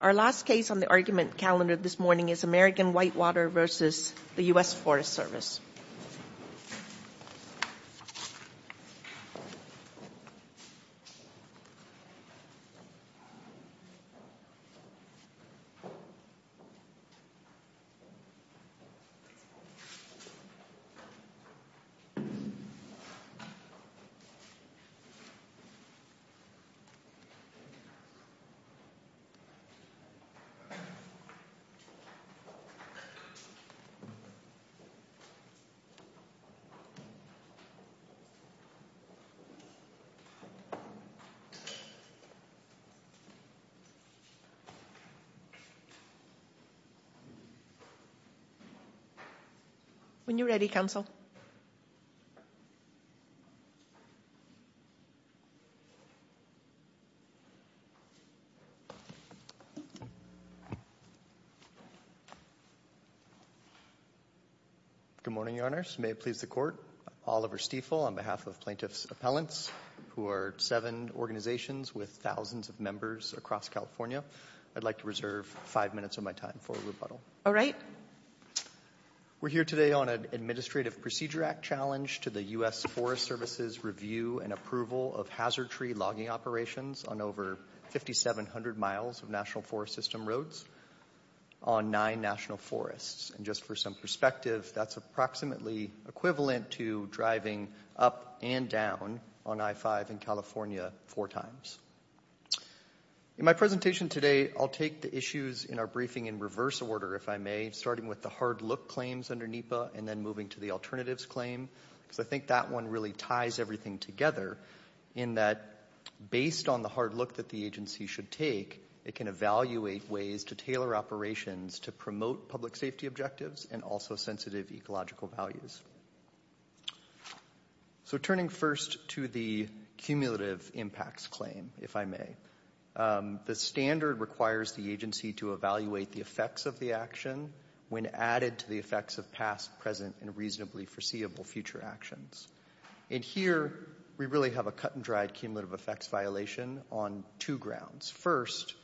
Our last case on the argument calendar this morning is American Whitewater v. U.S. Forest Service. When you're ready, counsel. Good morning, Your Honors. May it please the Court. I'm Oliver Stiefel on behalf of Plaintiff's Appellants, who are seven organizations with thousands of members across California. I'd like to reserve five minutes of my time for rebuttal. All right. We're here today on an Administrative Procedure Act challenge to the U.S. Forest Service's review and approval of hazard tree logging operations on over 5,700 miles of National Forest System roads on nine national forests. And just for some perspective, that's approximately equivalent to driving up and down on I-5 in California four times. In my presentation today, I'll take the issues in our briefing in reverse order, if I may, starting with the hard look claims under NEPA and then moving to the alternatives claim, because I think that one really ties everything together in that based on the hard look that the agency should take, it can evaluate ways to tailor operations to promote public safety objectives and also sensitive ecological values. So turning first to the cumulative impacts claim, if I may, the standard requires the agency to evaluate the effects of the action when added to the effects of past, present, and reasonably foreseeable future actions. And here we really have a cut-and-dried cumulative effects violation on two grounds. First,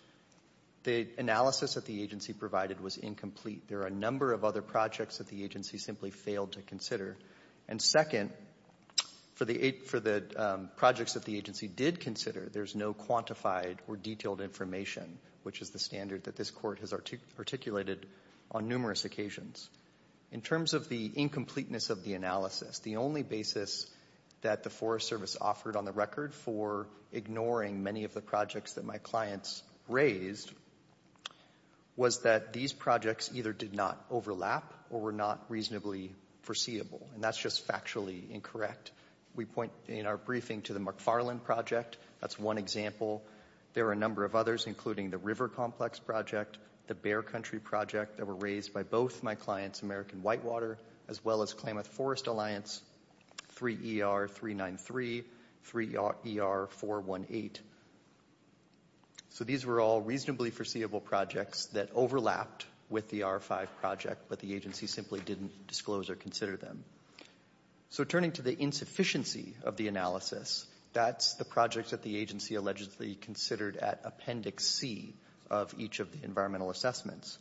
the analysis that the agency provided was incomplete. There are a number of other projects that the agency simply failed to consider. And second, for the projects that the agency did consider, there's no quantified or detailed information, which is the standard that this court has articulated on numerous occasions. In terms of the incompleteness of the analysis, the only basis that the Forest Service offered on the record for ignoring many of the projects that my clients raised was that these projects either did not overlap or were not reasonably foreseeable, and that's just factually incorrect. We point in our briefing to the McFarland Project. That's one example. There are a number of others, including the River Complex Project, the Bear Country Project, that were raised by both my clients, American Whitewater, as well as Klamath Forest Alliance, 3ER393, 3ER418. So these were all reasonably foreseeable projects that overlapped with the R5 Project, but the agency simply didn't disclose or consider them. So turning to the insufficiency of the analysis, that's the project that the agency allegedly considered at Appendix C of each of the environmental assessments.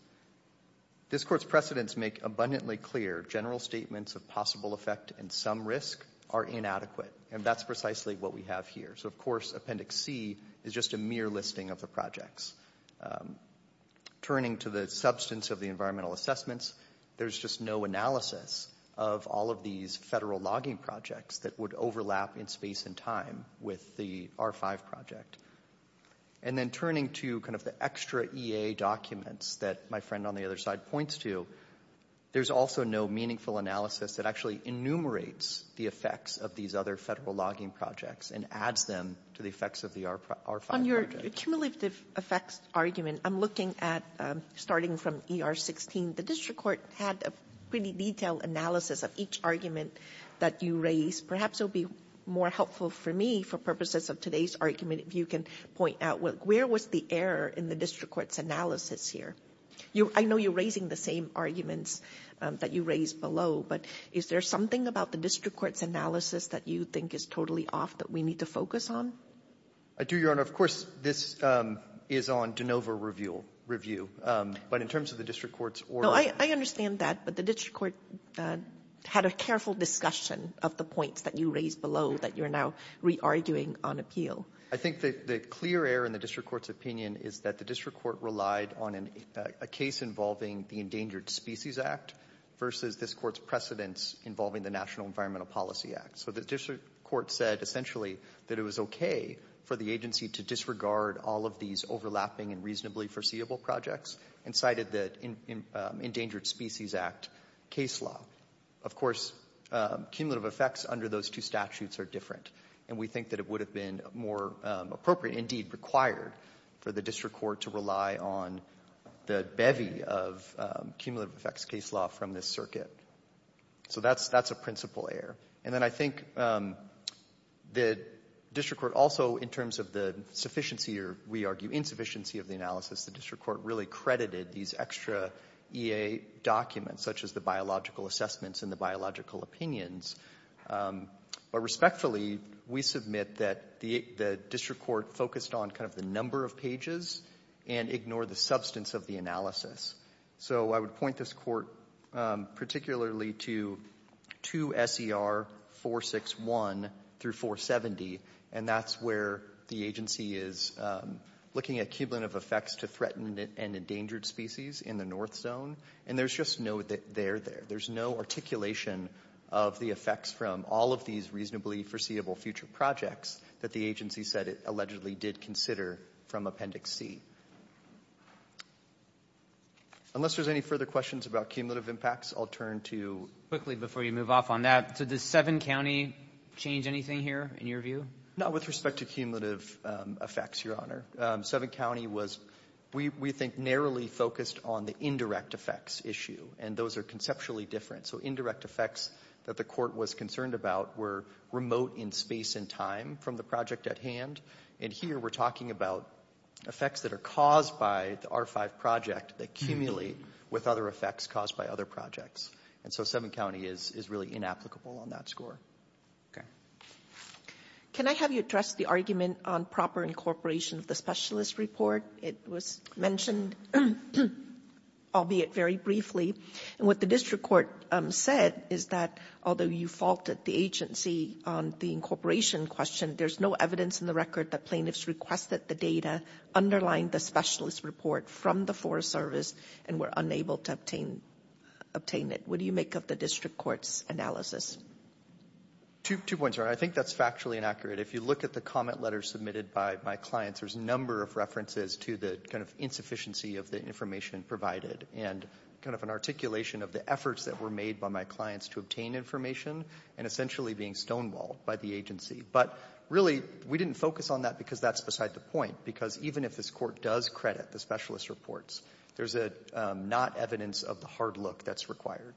This Court's precedents make abundantly clear general statements of possible effect and some risk are inadequate, and that's precisely what we have here. So, of course, Appendix C is just a mere listing of the projects. Turning to the substance of the environmental assessments, there's just no analysis of all of these federal logging projects that would overlap in space and time with the R5 Project. And then turning to kind of the extra EA documents that my friend on the other side points to, there's also no meaningful analysis that actually enumerates the effects of these other federal logging projects and adds them to the effects of the R5 Project. On your cumulative effects argument, I'm looking at, starting from ER16, the District Court had a pretty detailed analysis of each argument that you raised. Perhaps it would be more helpful for me, for purposes of today's argument, if you can point out where was the error in the District Court's analysis here? I know you're raising the same arguments that you raised below, but is there something about the District Court's analysis that you think is totally off that we need to focus on? I do, Your Honor. Of course, this is on de novo review. But in terms of the District Court's order — I understand that, but the District Court had a careful discussion of the points that you raised below that you're now re-arguing on appeal. I think the clear error in the District Court's opinion is that the District Court relied on a case involving the Endangered Species Act versus this Court's precedents involving the National Environmental Policy Act. So the District Court said essentially that it was okay for the agency to disregard all of these overlapping and reasonably foreseeable projects and cited the Endangered Species Act case law. Of course, cumulative effects under those two statutes are different, and we think that it would have been more appropriate, indeed required, for the District Court to rely on the bevy of cumulative effects case law from this circuit. So that's a principal error. And then I think the District Court also, in terms of the sufficiency or, we argue, insufficiency of the analysis, the District Court really credited these extra EA documents, such as the biological assessments and the biological opinions. But respectfully, we submit that the District Court focused on kind of the number of pages and ignored the substance of the analysis. So I would point this Court particularly to 2 SER 461 through 470, and that's where the agency is looking at cumulative effects to threatened and endangered species in the North Zone. And there's just no there there. There's no articulation of the effects from all of these reasonably foreseeable future projects that the agency said it allegedly did consider from Appendix C. Unless there's any further questions about cumulative impacts, I'll turn to you. Quickly, before you move off on that, so does Seven County change anything here, in your view? Not with respect to cumulative effects, Your Honor. Seven County was, we think, narrowly focused on the indirect effects issue, and those are conceptually different. So indirect effects that the Court was concerned about were remote in space and time from the project at hand, and here we're talking about effects that are caused by the R5 project that accumulate with other effects caused by other projects. And so Seven County is really inapplicable on that score. Okay. Can I have you address the argument on proper incorporation of the specialist report? It was mentioned, albeit very briefly, and what the District Court said is that although you faulted the agency on the incorporation question, there's no evidence in the record that plaintiffs requested the data underlying the specialist report from the Forest Service and were unable to obtain it. What do you make of the District Court's analysis? Two points, Your Honor. I think that's factually inaccurate. If you look at the comment letters submitted by my clients, there's a number of references to the kind of insufficiency of the information provided and kind of an articulation of the efforts that were made by my clients to obtain information and essentially being stonewalled by the agency. But really, we didn't focus on that because that's beside the point, because even if this Court does credit the specialist reports, there's not evidence of the hard look that's required.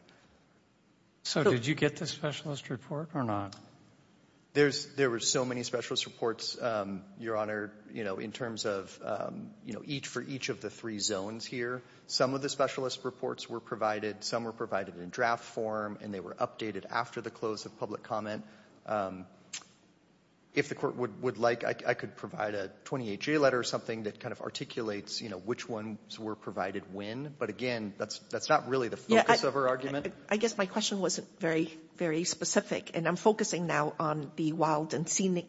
So did you get the specialist report or not? There were so many specialist reports, Your Honor, in terms of for each of the three zones here. Some of the specialist reports were provided. Some were provided in draft form, and they were updated after the close of public comment. If the Court would like, I could provide a 28-J letter or something that kind of articulates, you know, which ones were provided when. But again, that's not really the focus of our argument. I guess my question wasn't very, very specific, and I'm focusing now on the Wild and Scenic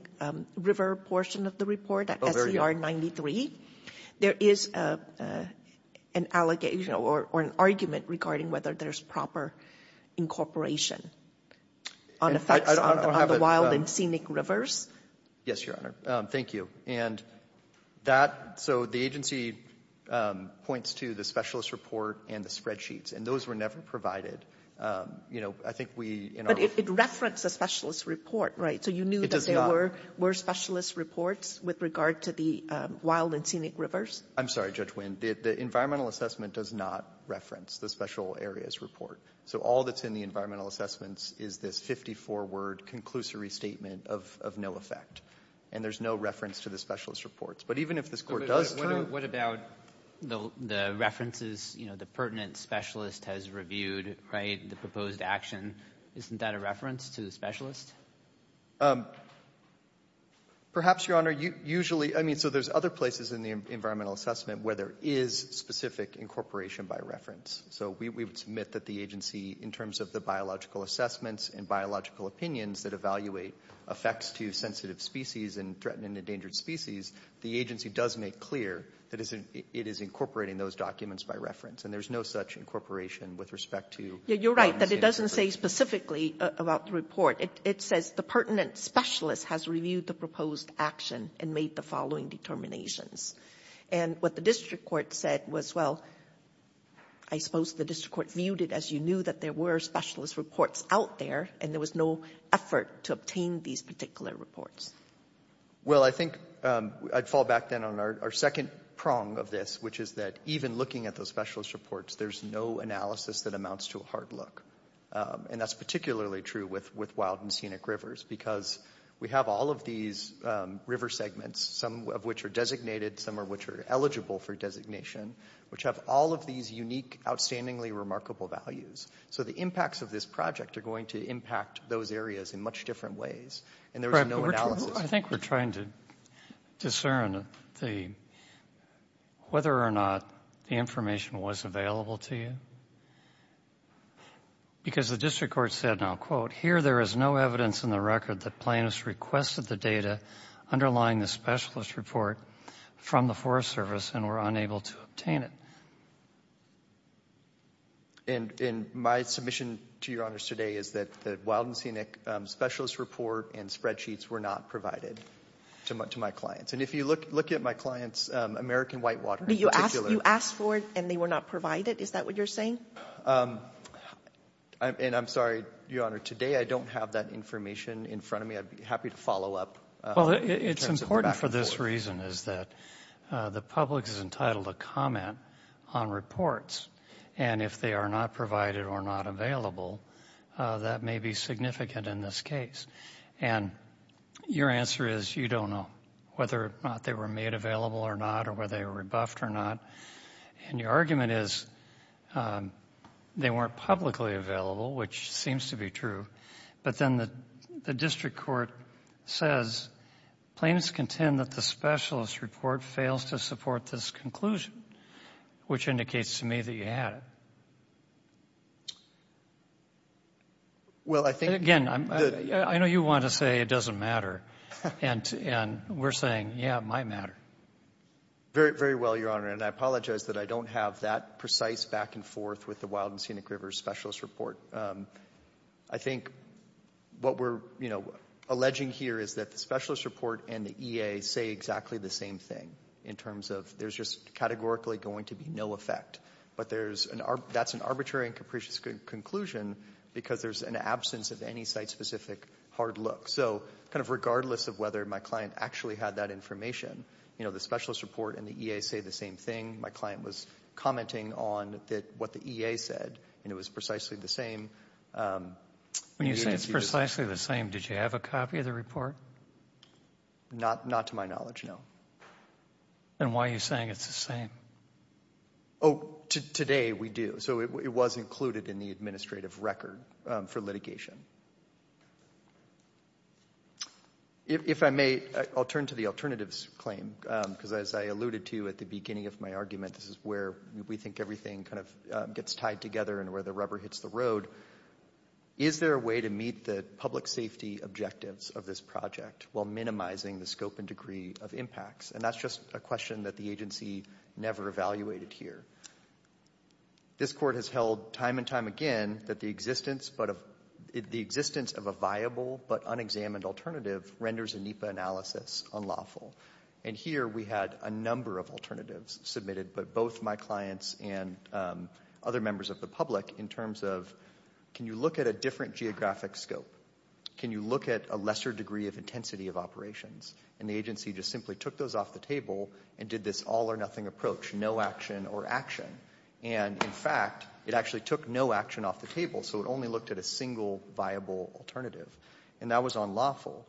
River portion of the report, SER 93. There is an allegation or an argument regarding whether there's proper incorporation on the facts on the Wild and Scenic Rivers. Yes, Your Honor. Thank you. And that so the agency points to the specialist report and the spreadsheets, and those were never provided. You know, I think we in our But it referenced a specialist report, right? It does not. Were specialist reports with regard to the Wild and Scenic Rivers? I'm sorry, Judge Nguyen. The environmental assessment does not reference the special areas report. So all that's in the environmental assessments is this 54-word conclusory statement of no effect. And there's no reference to the specialist reports. But even if this Court does turn What about the references, you know, the pertinent specialist has reviewed, right, the proposed action? Isn't that a reference to the specialist? Perhaps, Your Honor. Usually, I mean, so there's other places in the environmental assessment where there is specific incorporation by reference. So we would submit that the agency, in terms of the biological assessments and biological opinions that evaluate effects to sensitive species and threatened and endangered species, the agency does make clear that it is incorporating those documents by reference. And there's no such incorporation with respect to That it doesn't say specifically about the report. It says the pertinent specialist has reviewed the proposed action and made the following determinations. And what the district court said was, well, I suppose the district court viewed it as you knew that there were specialist reports out there, and there was no effort to obtain these particular reports. Well, I think I'd fall back then on our second prong of this, which is that even looking at those specialist reports, there's no analysis that amounts to a hard look. And that's particularly true with wild and scenic rivers, because we have all of these river segments, some of which are designated, some of which are eligible for designation, which have all of these unique, outstandingly remarkable values. So the impacts of this project are going to impact those areas in much different ways. And there was no analysis. I think we're trying to discern whether or not the information was available to you. Because the district court said, and I'll quote, here there is no evidence in the record that plaintiffs requested the data underlying the specialist report from the Forest Service and were unable to obtain it. And my submission to Your Honors today is that the wild and scenic specialist report and spreadsheets were not provided to my clients. And if you look at my clients, American Whitewater in particular. You asked for it, and they were not provided? Is that what you're saying? And I'm sorry, Your Honor, today I don't have that information in front of me. I'd be happy to follow up. Well, it's important for this reason is that the public is entitled to comment on reports. And if they are not provided or not available, that may be significant in this case. And your answer is you don't know whether or not they were made available or not or whether they were rebuffed or not. And your argument is they weren't publicly available, which seems to be true. But then the district court says plaintiffs contend that the specialist report fails to support this conclusion, which indicates to me that you had it. Well, I think the ---- Again, I know you want to say it doesn't matter. And we're saying, yeah, it might matter. Very well, Your Honor. And I apologize that I don't have that precise back and forth with the wild and scenic river specialist report. I think what we're alleging here is that the specialist report and the EA say exactly the same thing in terms of there's just categorically going to be no effect. But that's an arbitrary and capricious conclusion because there's an absence of any site-specific hard look. So kind of regardless of whether my client actually had that information, the specialist report and the EA say the same thing. My client was commenting on what the EA said, and it was precisely the same. When you say it's precisely the same, did you have a copy of the report? Not to my knowledge, no. Then why are you saying it's the same? Oh, today we do. So it was included in the administrative record for litigation. If I may, I'll turn to the alternatives claim because as I alluded to at the beginning of my argument, this is where we think everything kind of gets tied together and where the rubber hits the road. Is there a way to meet the public safety objectives of this project while minimizing the scope and degree of impacts? And that's just a question that the agency never evaluated here. This court has held time and time again that the existence of a viable but unexamined alternative renders a NEPA analysis unlawful. And here we had a number of alternatives submitted, but both my clients and other members of the public in terms of can you look at a different geographic scope? Can you look at a lesser degree of intensity of operations? And the agency just simply took those off the table and did this all or nothing approach, no action or action. And, in fact, it actually took no action off the table, so it only looked at a single viable alternative. And that was unlawful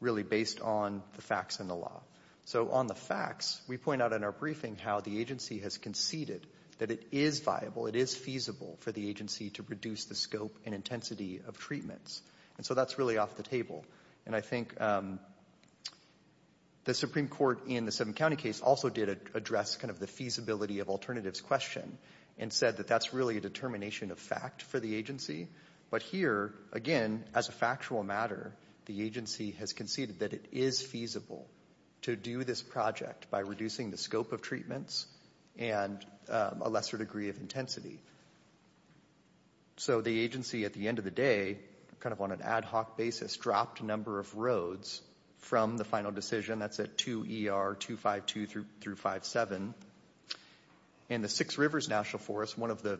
really based on the facts and the law. So on the facts, we point out in our briefing how the agency has conceded that it is viable, it is feasible for the agency to reduce the scope and intensity of treatments. And so that's really off the table. And I think the Supreme Court in the seven-county case also did address kind of the feasibility of alternatives question and said that that's really a determination of fact for the agency. But here, again, as a factual matter, the agency has conceded that it is feasible to do this project by reducing the scope of treatments and a lesser degree of intensity. So the agency, at the end of the day, kind of on an ad hoc basis, dropped a number of roads from the final decision. That's at 2 ER 252 through 57. And the Six Rivers National Forest, one of the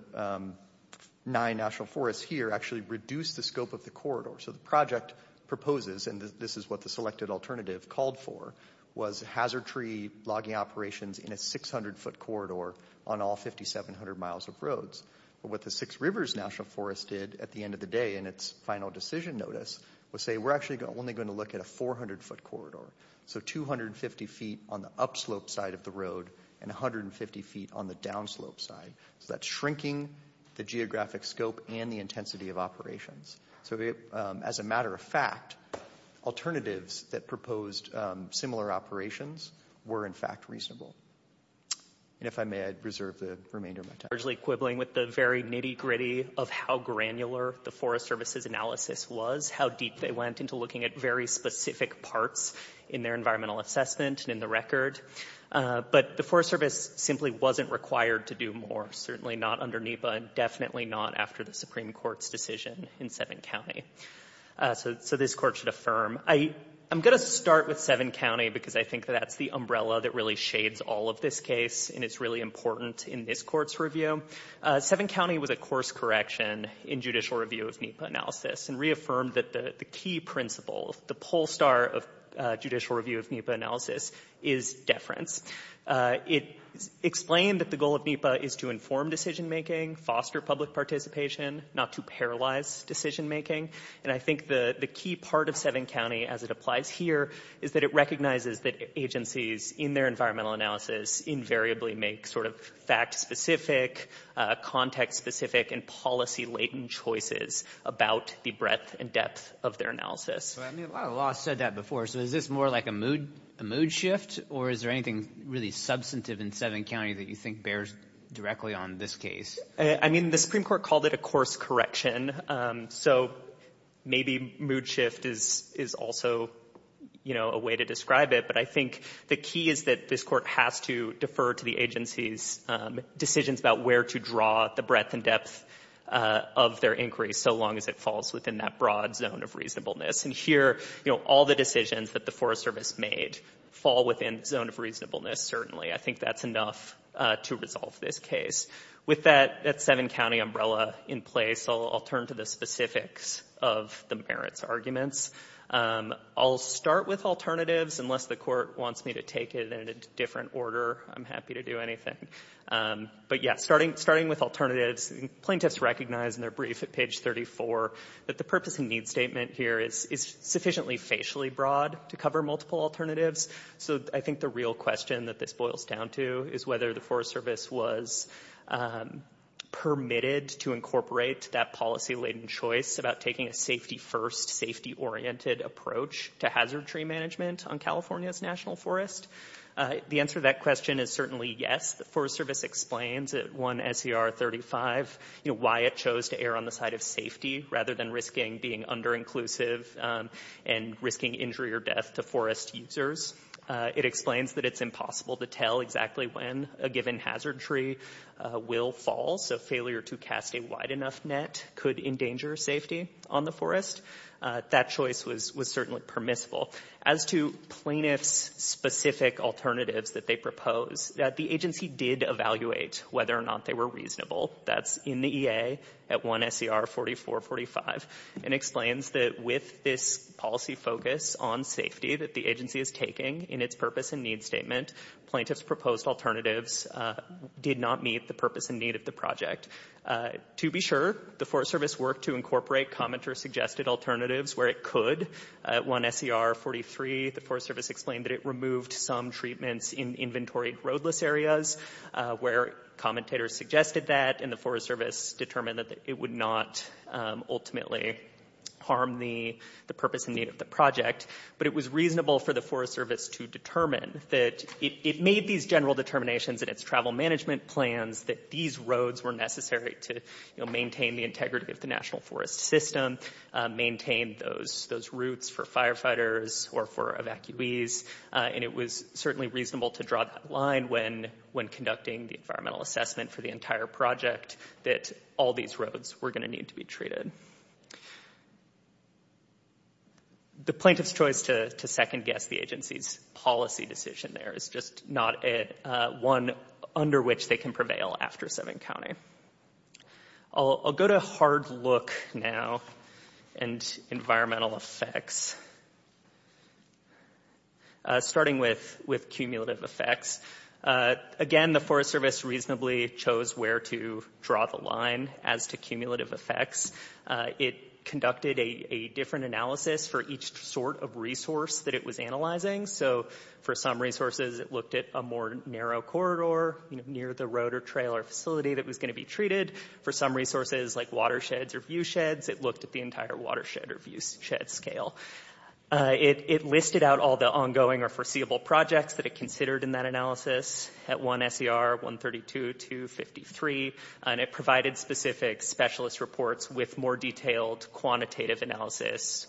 nine national forests here, actually reduced the scope of the corridor. So the project proposes, and this is what the selected alternative called for, was hazard tree logging operations in a 600-foot corridor on all 5,700 miles of roads. But what the Six Rivers National Forest did at the end of the day in its final decision notice was say we're actually only going to look at a 400-foot corridor. So 250 feet on the upslope side of the road and 150 feet on the downslope side. So that's shrinking the geographic scope and the intensity of operations. So as a matter of fact, alternatives that proposed similar operations were in fact reasonable. And if I may, I'd reserve the remainder of my time. Equibling with the very nitty-gritty of how granular the Forest Service's analysis was, how deep they went into looking at very specific parts in their environmental assessment and in the record. But the Forest Service simply wasn't required to do more, certainly not under NEPA and definitely not after the Supreme Court's decision in Seven County. So this Court should affirm. I'm going to start with Seven County because I think that that's the umbrella that really shades all of this case and is really important in this Court's review. Seven County was a course correction in judicial review of NEPA analysis and reaffirmed that the key principle, the pole star of judicial review of NEPA analysis is deference. It explained that the goal of NEPA is to inform decision-making, foster public participation, not to paralyze decision-making. And I think the key part of Seven County, as it applies here, is that it recognizes that agencies in their environmental analysis invariably make sort of fact-specific, context-specific, and policy-latent choices about the breadth and depth of their analysis. A lot of law has said that before, so is this more like a mood shift or is there anything really substantive in Seven County that you think bears directly on this case? I mean, the Supreme Court called it a course correction, so maybe mood shift is also a way to describe it. But I think the key is that this Court has to defer to the agencies' decisions about where to draw the breadth and depth of their inquiry so long as it falls within that broad zone of reasonableness. And here, you know, all the decisions that the Forest Service made fall within the zone of reasonableness, certainly. I think that's enough to resolve this case. With that Seven County umbrella in place, I'll turn to the specifics of the merits arguments. I'll start with alternatives, unless the Court wants me to take it in a different order. I'm happy to do anything. But yeah, starting with alternatives, plaintiffs recognize in their brief at page 34 that the purpose and need statement here is sufficiently facially broad to cover multiple alternatives. So I think the real question that this boils down to is whether the Forest Service was permitted to incorporate that policy-latent choice about taking a safety-first, safety-oriented approach to hazard tree management on California's national forest. The answer to that question is certainly yes. The Forest Service explains at 1 S.E.R. 35, you know, why it chose to err on the side of safety rather than risking being under-inclusive and risking injury or death to forest users. It explains that it's impossible to tell exactly when a given hazard tree will fall. So failure to cast a wide enough net could endanger safety on the forest. That choice was certainly permissible. As to plaintiffs' specific alternatives that they propose, the agency did evaluate whether or not they were reasonable. That's in the E.A. at 1 S.E.R. 44-45. It explains that with this policy focus on safety that the agency is taking in its purpose and need statement, plaintiffs' proposed alternatives did not meet the purpose and need of the project. To be sure, the Forest Service worked to incorporate commenter-suggested alternatives where it could at 1 S.E.R. 43. The Forest Service explained that it removed some treatments in inventory roadless areas where commentators suggested that and the Forest Service determined that it would not ultimately harm the purpose and need of the project. But it was reasonable for the Forest Service to determine that it made these general determinations in its travel management plans that these roads were necessary to, you know, meet those routes for firefighters or for evacuees. And it was certainly reasonable to draw that line when conducting the environmental assessment for the entire project that all these roads were going to need to be treated. The plaintiff's choice to second-guess the agency's policy decision there is just not one under which they can prevail after 7 County. I'll go to hard look now and environmental effects. Starting with cumulative effects. Again, the Forest Service reasonably chose where to draw the line as to cumulative effects. It conducted a different analysis for each sort of resource that it was analyzing. So for some resources, it looked at a more narrow corridor near the road or trail or facility that was going to be treated. For some resources like watersheds or view sheds, it looked at the entire watershed or view shed scale. It listed out all the ongoing or foreseeable projects that it considered in that analysis at 1 S.E.R. 132 to 53. And it provided specific specialist reports with more detailed quantitative analysis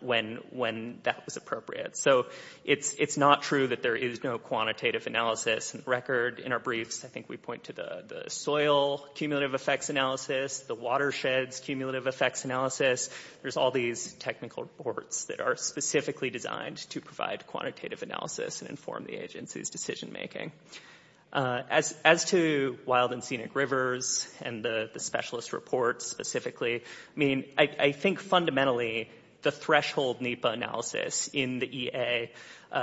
when that was appropriate. So it's not true that there is no quantitative analysis record in our briefs. I think we point to the soil cumulative effects analysis, the watersheds cumulative effects analysis. There's all these technical reports that are specifically designed to provide quantitative analysis and inform the agency's decision making. As to wild and scenic rivers and the specialist reports specifically, I mean, I think fundamentally the threshold NEPA analysis in the E.A.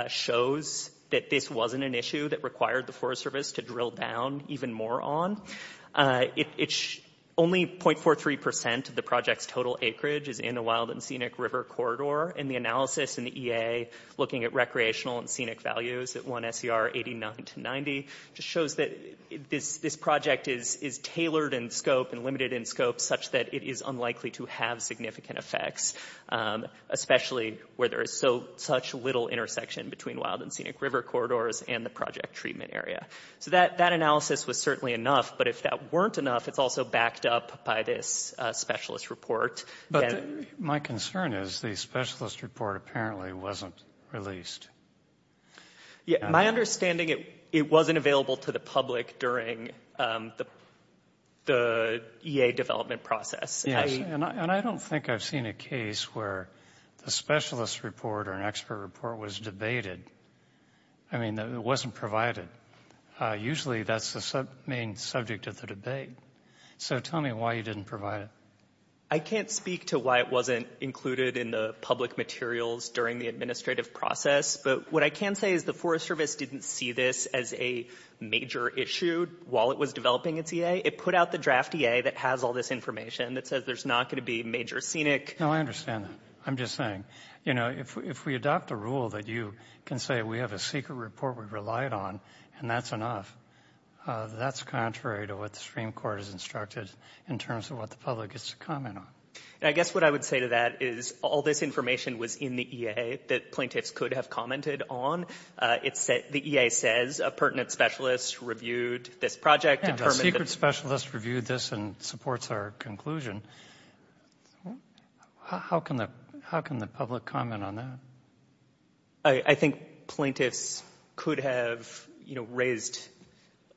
shows that this wasn't an issue that required the Forest Service to drill down even more on. It's only 0.43 percent of the project's total acreage is in a wild and scenic river corridor. And the analysis in the E.A. looking at recreational and scenic values at 1 S.E.R. 89 to 90 just shows that this project is tailored in scope and limited in scope such that it is unlikely to have significant effects, especially where there is so such little intersection between wild and scenic river corridors and the project treatment area. So that analysis was certainly enough. But if that weren't enough, it's also backed up by this specialist report. But my concern is the specialist report apparently wasn't released. My understanding, it wasn't available to the public during the E.A. development process. And I don't think I've seen a case where the specialist report or an expert report was debated. I mean, it wasn't provided. Usually that's the main subject of the debate. So tell me why you didn't provide it. I can't speak to why it wasn't included in the public materials during the administrative process. But what I can say is the Forest Service didn't see this as a major issue while it was developing its E.A. It put out the draft E.A. that has all this information that says there's not going to be major scenic. No, I understand. I'm just saying, you know, if we adopt a rule that you can say we have a secret report we relied on and that's enough, that's contrary to what the Supreme Court has instructed in terms of what the public gets to comment on. And I guess what I would say to that is all this information was in the E.A. that plaintiffs could have commented on. The E.A. says a pertinent specialist reviewed this project. A secret specialist reviewed this and supports our conclusion. How can the public comment on that? I think plaintiffs could have, you know, raised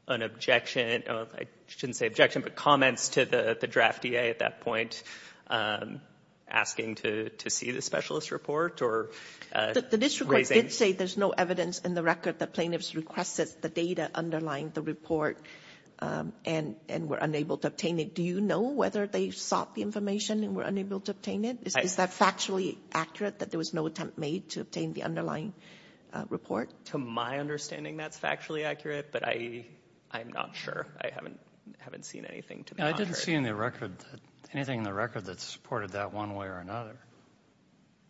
an objection. I shouldn't say objection, but comments to the draft E.A. at that point asking to see the specialist report or raising. The district court did say there's no evidence in the record that plaintiffs requested the data underlying the report and were unable to obtain it. Do you know whether they sought the information and were unable to obtain it? Is that factually accurate, that there was no attempt made to obtain the underlying report? To my understanding, that's factually accurate, but I'm not sure. I haven't seen anything. I didn't see anything in the record that supported that one way or another.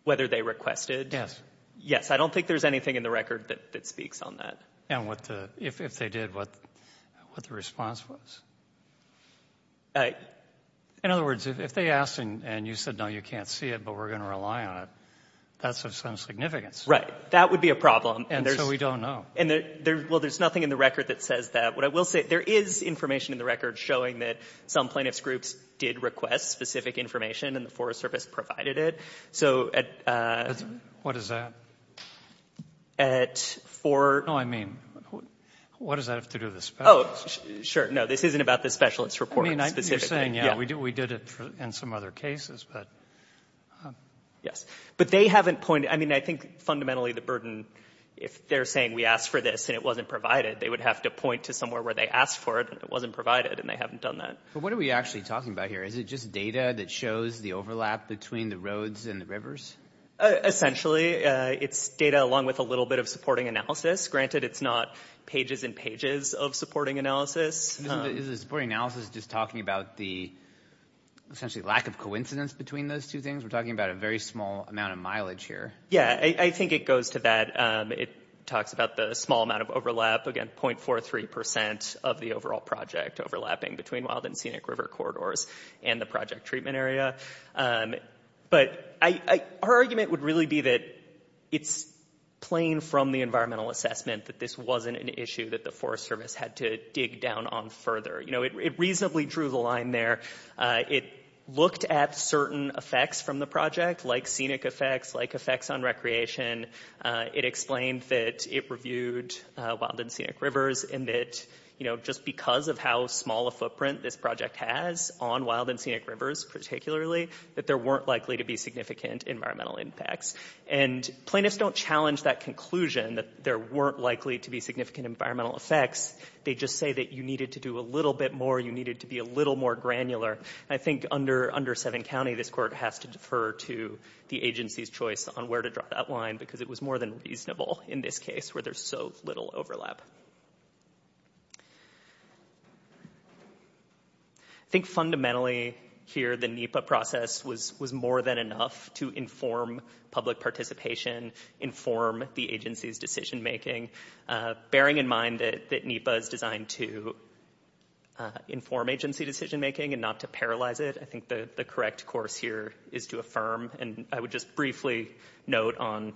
Whether they requested? Yes. Yes. I don't think there's anything in the record that speaks on that. And if they did, what the response was? In other words, if they asked and you said, no, you can't see it, but we're going to rely on it, that's of some significance. Right. That would be a problem. And so we don't know. Well, there's nothing in the record that says that. What I will say, there is information in the record showing that some plaintiffs' groups did request specific information and the Forest Service provided it. What is that? At 4. No, I mean, what does that have to do with the specialist? Oh, sure. No, this isn't about the specialist report specifically. I mean, you're saying, yeah, we did it in some other cases, but. Yes. But they haven't pointed. I mean, I think fundamentally the burden, if they're saying we asked for this and it wasn't provided, they would have to point to somewhere where they asked for it and it wasn't provided, and they haven't done that. But what are we actually talking about here? Is it just data that shows the overlap between the roads and the rivers? Essentially, it's data along with a little bit of supporting analysis. Granted, it's not pages and pages of supporting analysis. Is the supporting analysis just talking about the essentially lack of coincidence between those two things? We're talking about a very small amount of mileage here. Yeah, I think it goes to that. It talks about the small amount of overlap, again, 0.43% of the overall project overlapping between Wild and Scenic River corridors and the project treatment area. But her argument would really be that it's plain from the environmental assessment that this wasn't an issue that the Forest Service had to dig down on further. It reasonably drew the line there. It looked at certain effects from the project, like scenic effects, like effects on recreation. It explained that it reviewed Wild and Scenic Rivers and that just because of how small a footprint this project has on Wild and Scenic Rivers, particularly, that there weren't likely to be significant environmental impacts. And plaintiffs don't challenge that conclusion that there weren't likely to be significant environmental effects. They just say that you needed to do a little bit more. You needed to be a little more granular. I think under Seven County, this Court has to defer to the agency's choice on where to draw that line because it was more than reasonable in this case where there's so little overlap. I think fundamentally, here, the NEPA process was more than enough to inform public participation, inform the agency's decision-making. Bearing in mind that NEPA is designed to inform agency decision-making and not to paralyze it, I think the correct course here is to affirm, and I would just briefly note on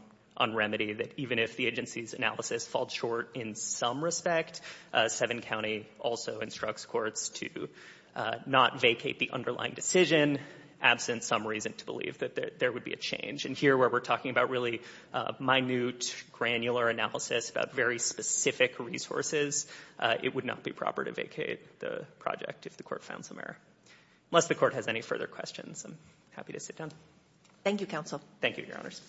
remedy, that even if the agency's analysis falls short in some respect, Seven County also instructs courts to not vacate the underlying decision, absent some reason to believe that there would be a change. And here, where we're talking about really minute, granular analysis about very specific resources, it would not be proper to vacate the project if the court found some error. Unless the court has any further questions, I'm happy to sit down. Thank you, Counsel. Thank you, Your Honors.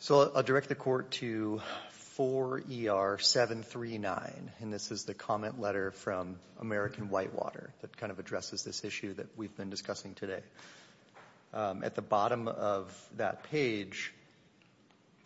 So I'll direct the Court to 4ER739, and this is the comment letter from American Whitewater that kind of addresses this issue that we've been discussing today. At the bottom of that page,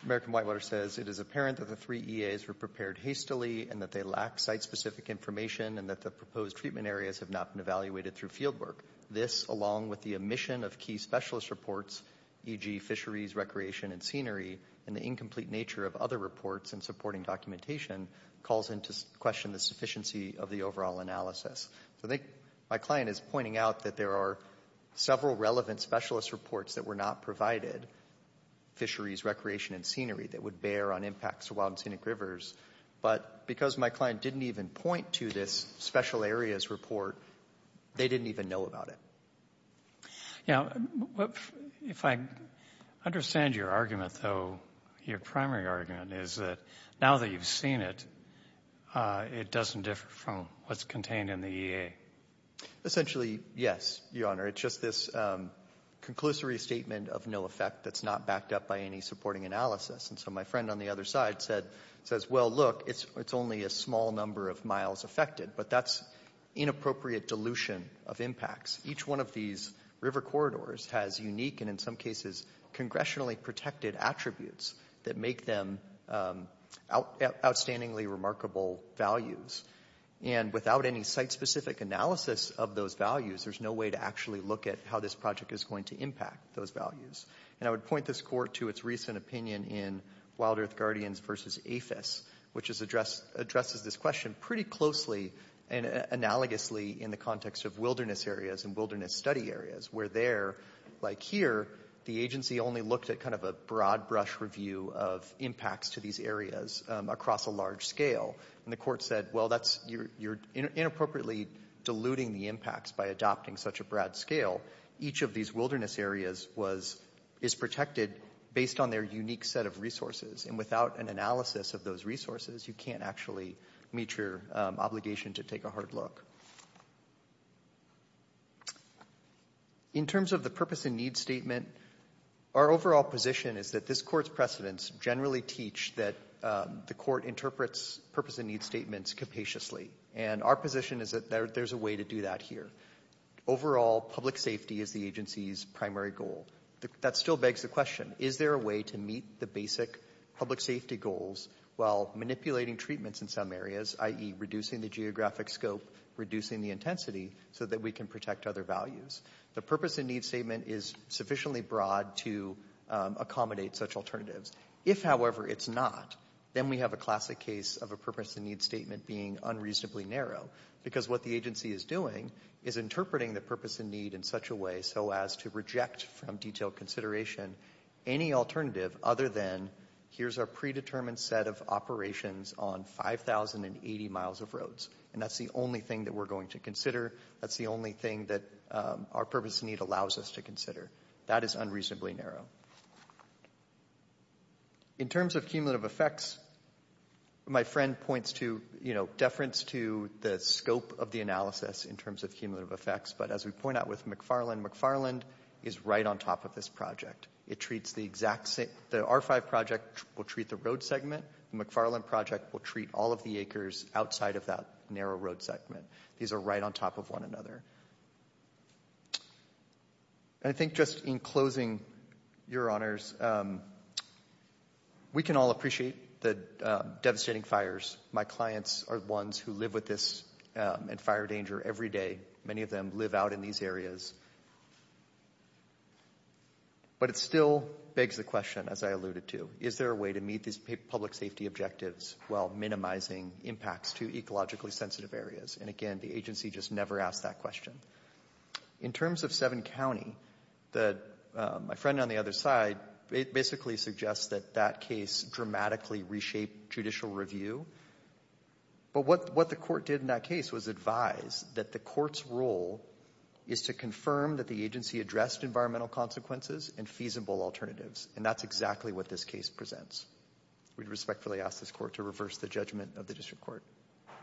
American Whitewater says, it is apparent that the three EAs were prepared hastily and that they lack site-specific information and that the proposed treatment areas have not been evaluated through fieldwork. This, along with the omission of key specialist reports, e.g. fisheries, recreation, and scenery, and the incomplete nature of other reports in supporting documentation, calls into question the sufficiency of the overall analysis. I think my client is pointing out that there are several relevant specialist reports that were not provided, fisheries, recreation, and scenery, that would bear on impacts to wild and scenic rivers. But because my client didn't even point to this special areas report, they didn't even know about it. Yeah. If I understand your argument, though, your primary argument is that now that you've seen it, it doesn't differ from what's contained in the EA. Essentially, yes, Your Honor. It's just this conclusory statement of no effect that's not backed up by any supporting analysis. And so my friend on the other side says, well, look, it's only a small number of miles affected. But that's inappropriate dilution of impacts. Each one of these river corridors has unique and, in some cases, congressionally protected attributes that make them outstandingly remarkable values. And without any site-specific analysis of those values, there's no way to actually look at how this project is going to impact those values. And I would point this Court to its recent opinion in Wild Earth Guardians v. APHIS, which addresses this question pretty closely and analogously in the context of wilderness areas and wilderness study areas, where there, like here, the agency only looked at kind of a broad brush review of impacts to these areas across a large scale. And the Court said, well, you're inappropriately diluting the impacts by adopting such a broad scale. Each of these wilderness areas is protected based on their unique set of resources. And without an analysis of those resources, you can't actually meet your obligation to take a hard look. In terms of the purpose and need statement, our overall position is that this Court's precedents generally teach that the Court interprets purpose and need statements capaciously. And our position is that there's a way to do that here. Overall, public safety is the agency's primary goal. That still begs the question, is there a way to meet the basic public safety goals while manipulating treatments in some areas, i.e. reducing the geographic scope, reducing the intensity, so that we can protect other values? The purpose and need statement is sufficiently broad to accommodate such alternatives. If, however, it's not, then we have a classic case of a purpose and need statement being unreasonably narrow, because what the agency is doing is interpreting the purpose and need in such a way so as to reject from detailed consideration any alternative other than here's our predetermined set of operations on 5,080 miles of roads. And that's the only thing that we're going to consider. That's the only thing that our purpose and need allows us to consider. That is unreasonably narrow. In terms of cumulative effects, my friend points to, you know, deference to the scope of the analysis in terms of cumulative effects. But as we point out with McFarland, McFarland is right on top of this project. It treats the exact same, the R5 project will treat the road segment. The McFarland project will treat all of the acres outside of that narrow road segment. These are right on top of one another. I think just in closing, Your Honors, we can all appreciate the devastating fires. My clients are the ones who live with this and fire danger every day. Many of them live out in these areas. But it still begs the question, as I alluded to, is there a way to meet these public safety objectives while minimizing impacts to ecologically sensitive areas? And again, the agency just never asked that question. In terms of Seven County, my friend on the other side basically suggests that that case dramatically reshaped judicial review. But what the court did in that case was advise that the court's role is to confirm that the agency addressed environmental consequences and feasible alternatives. And that's exactly what this case presents. We respectfully ask this court to reverse the judgment of the district court.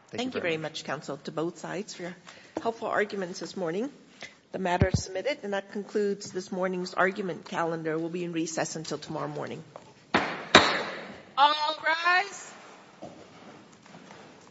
Thank you very much, Counsel, to both sides for your helpful arguments this morning. The matter is submitted, and that concludes this morning's argument calendar. It will be in recess until tomorrow morning. All rise.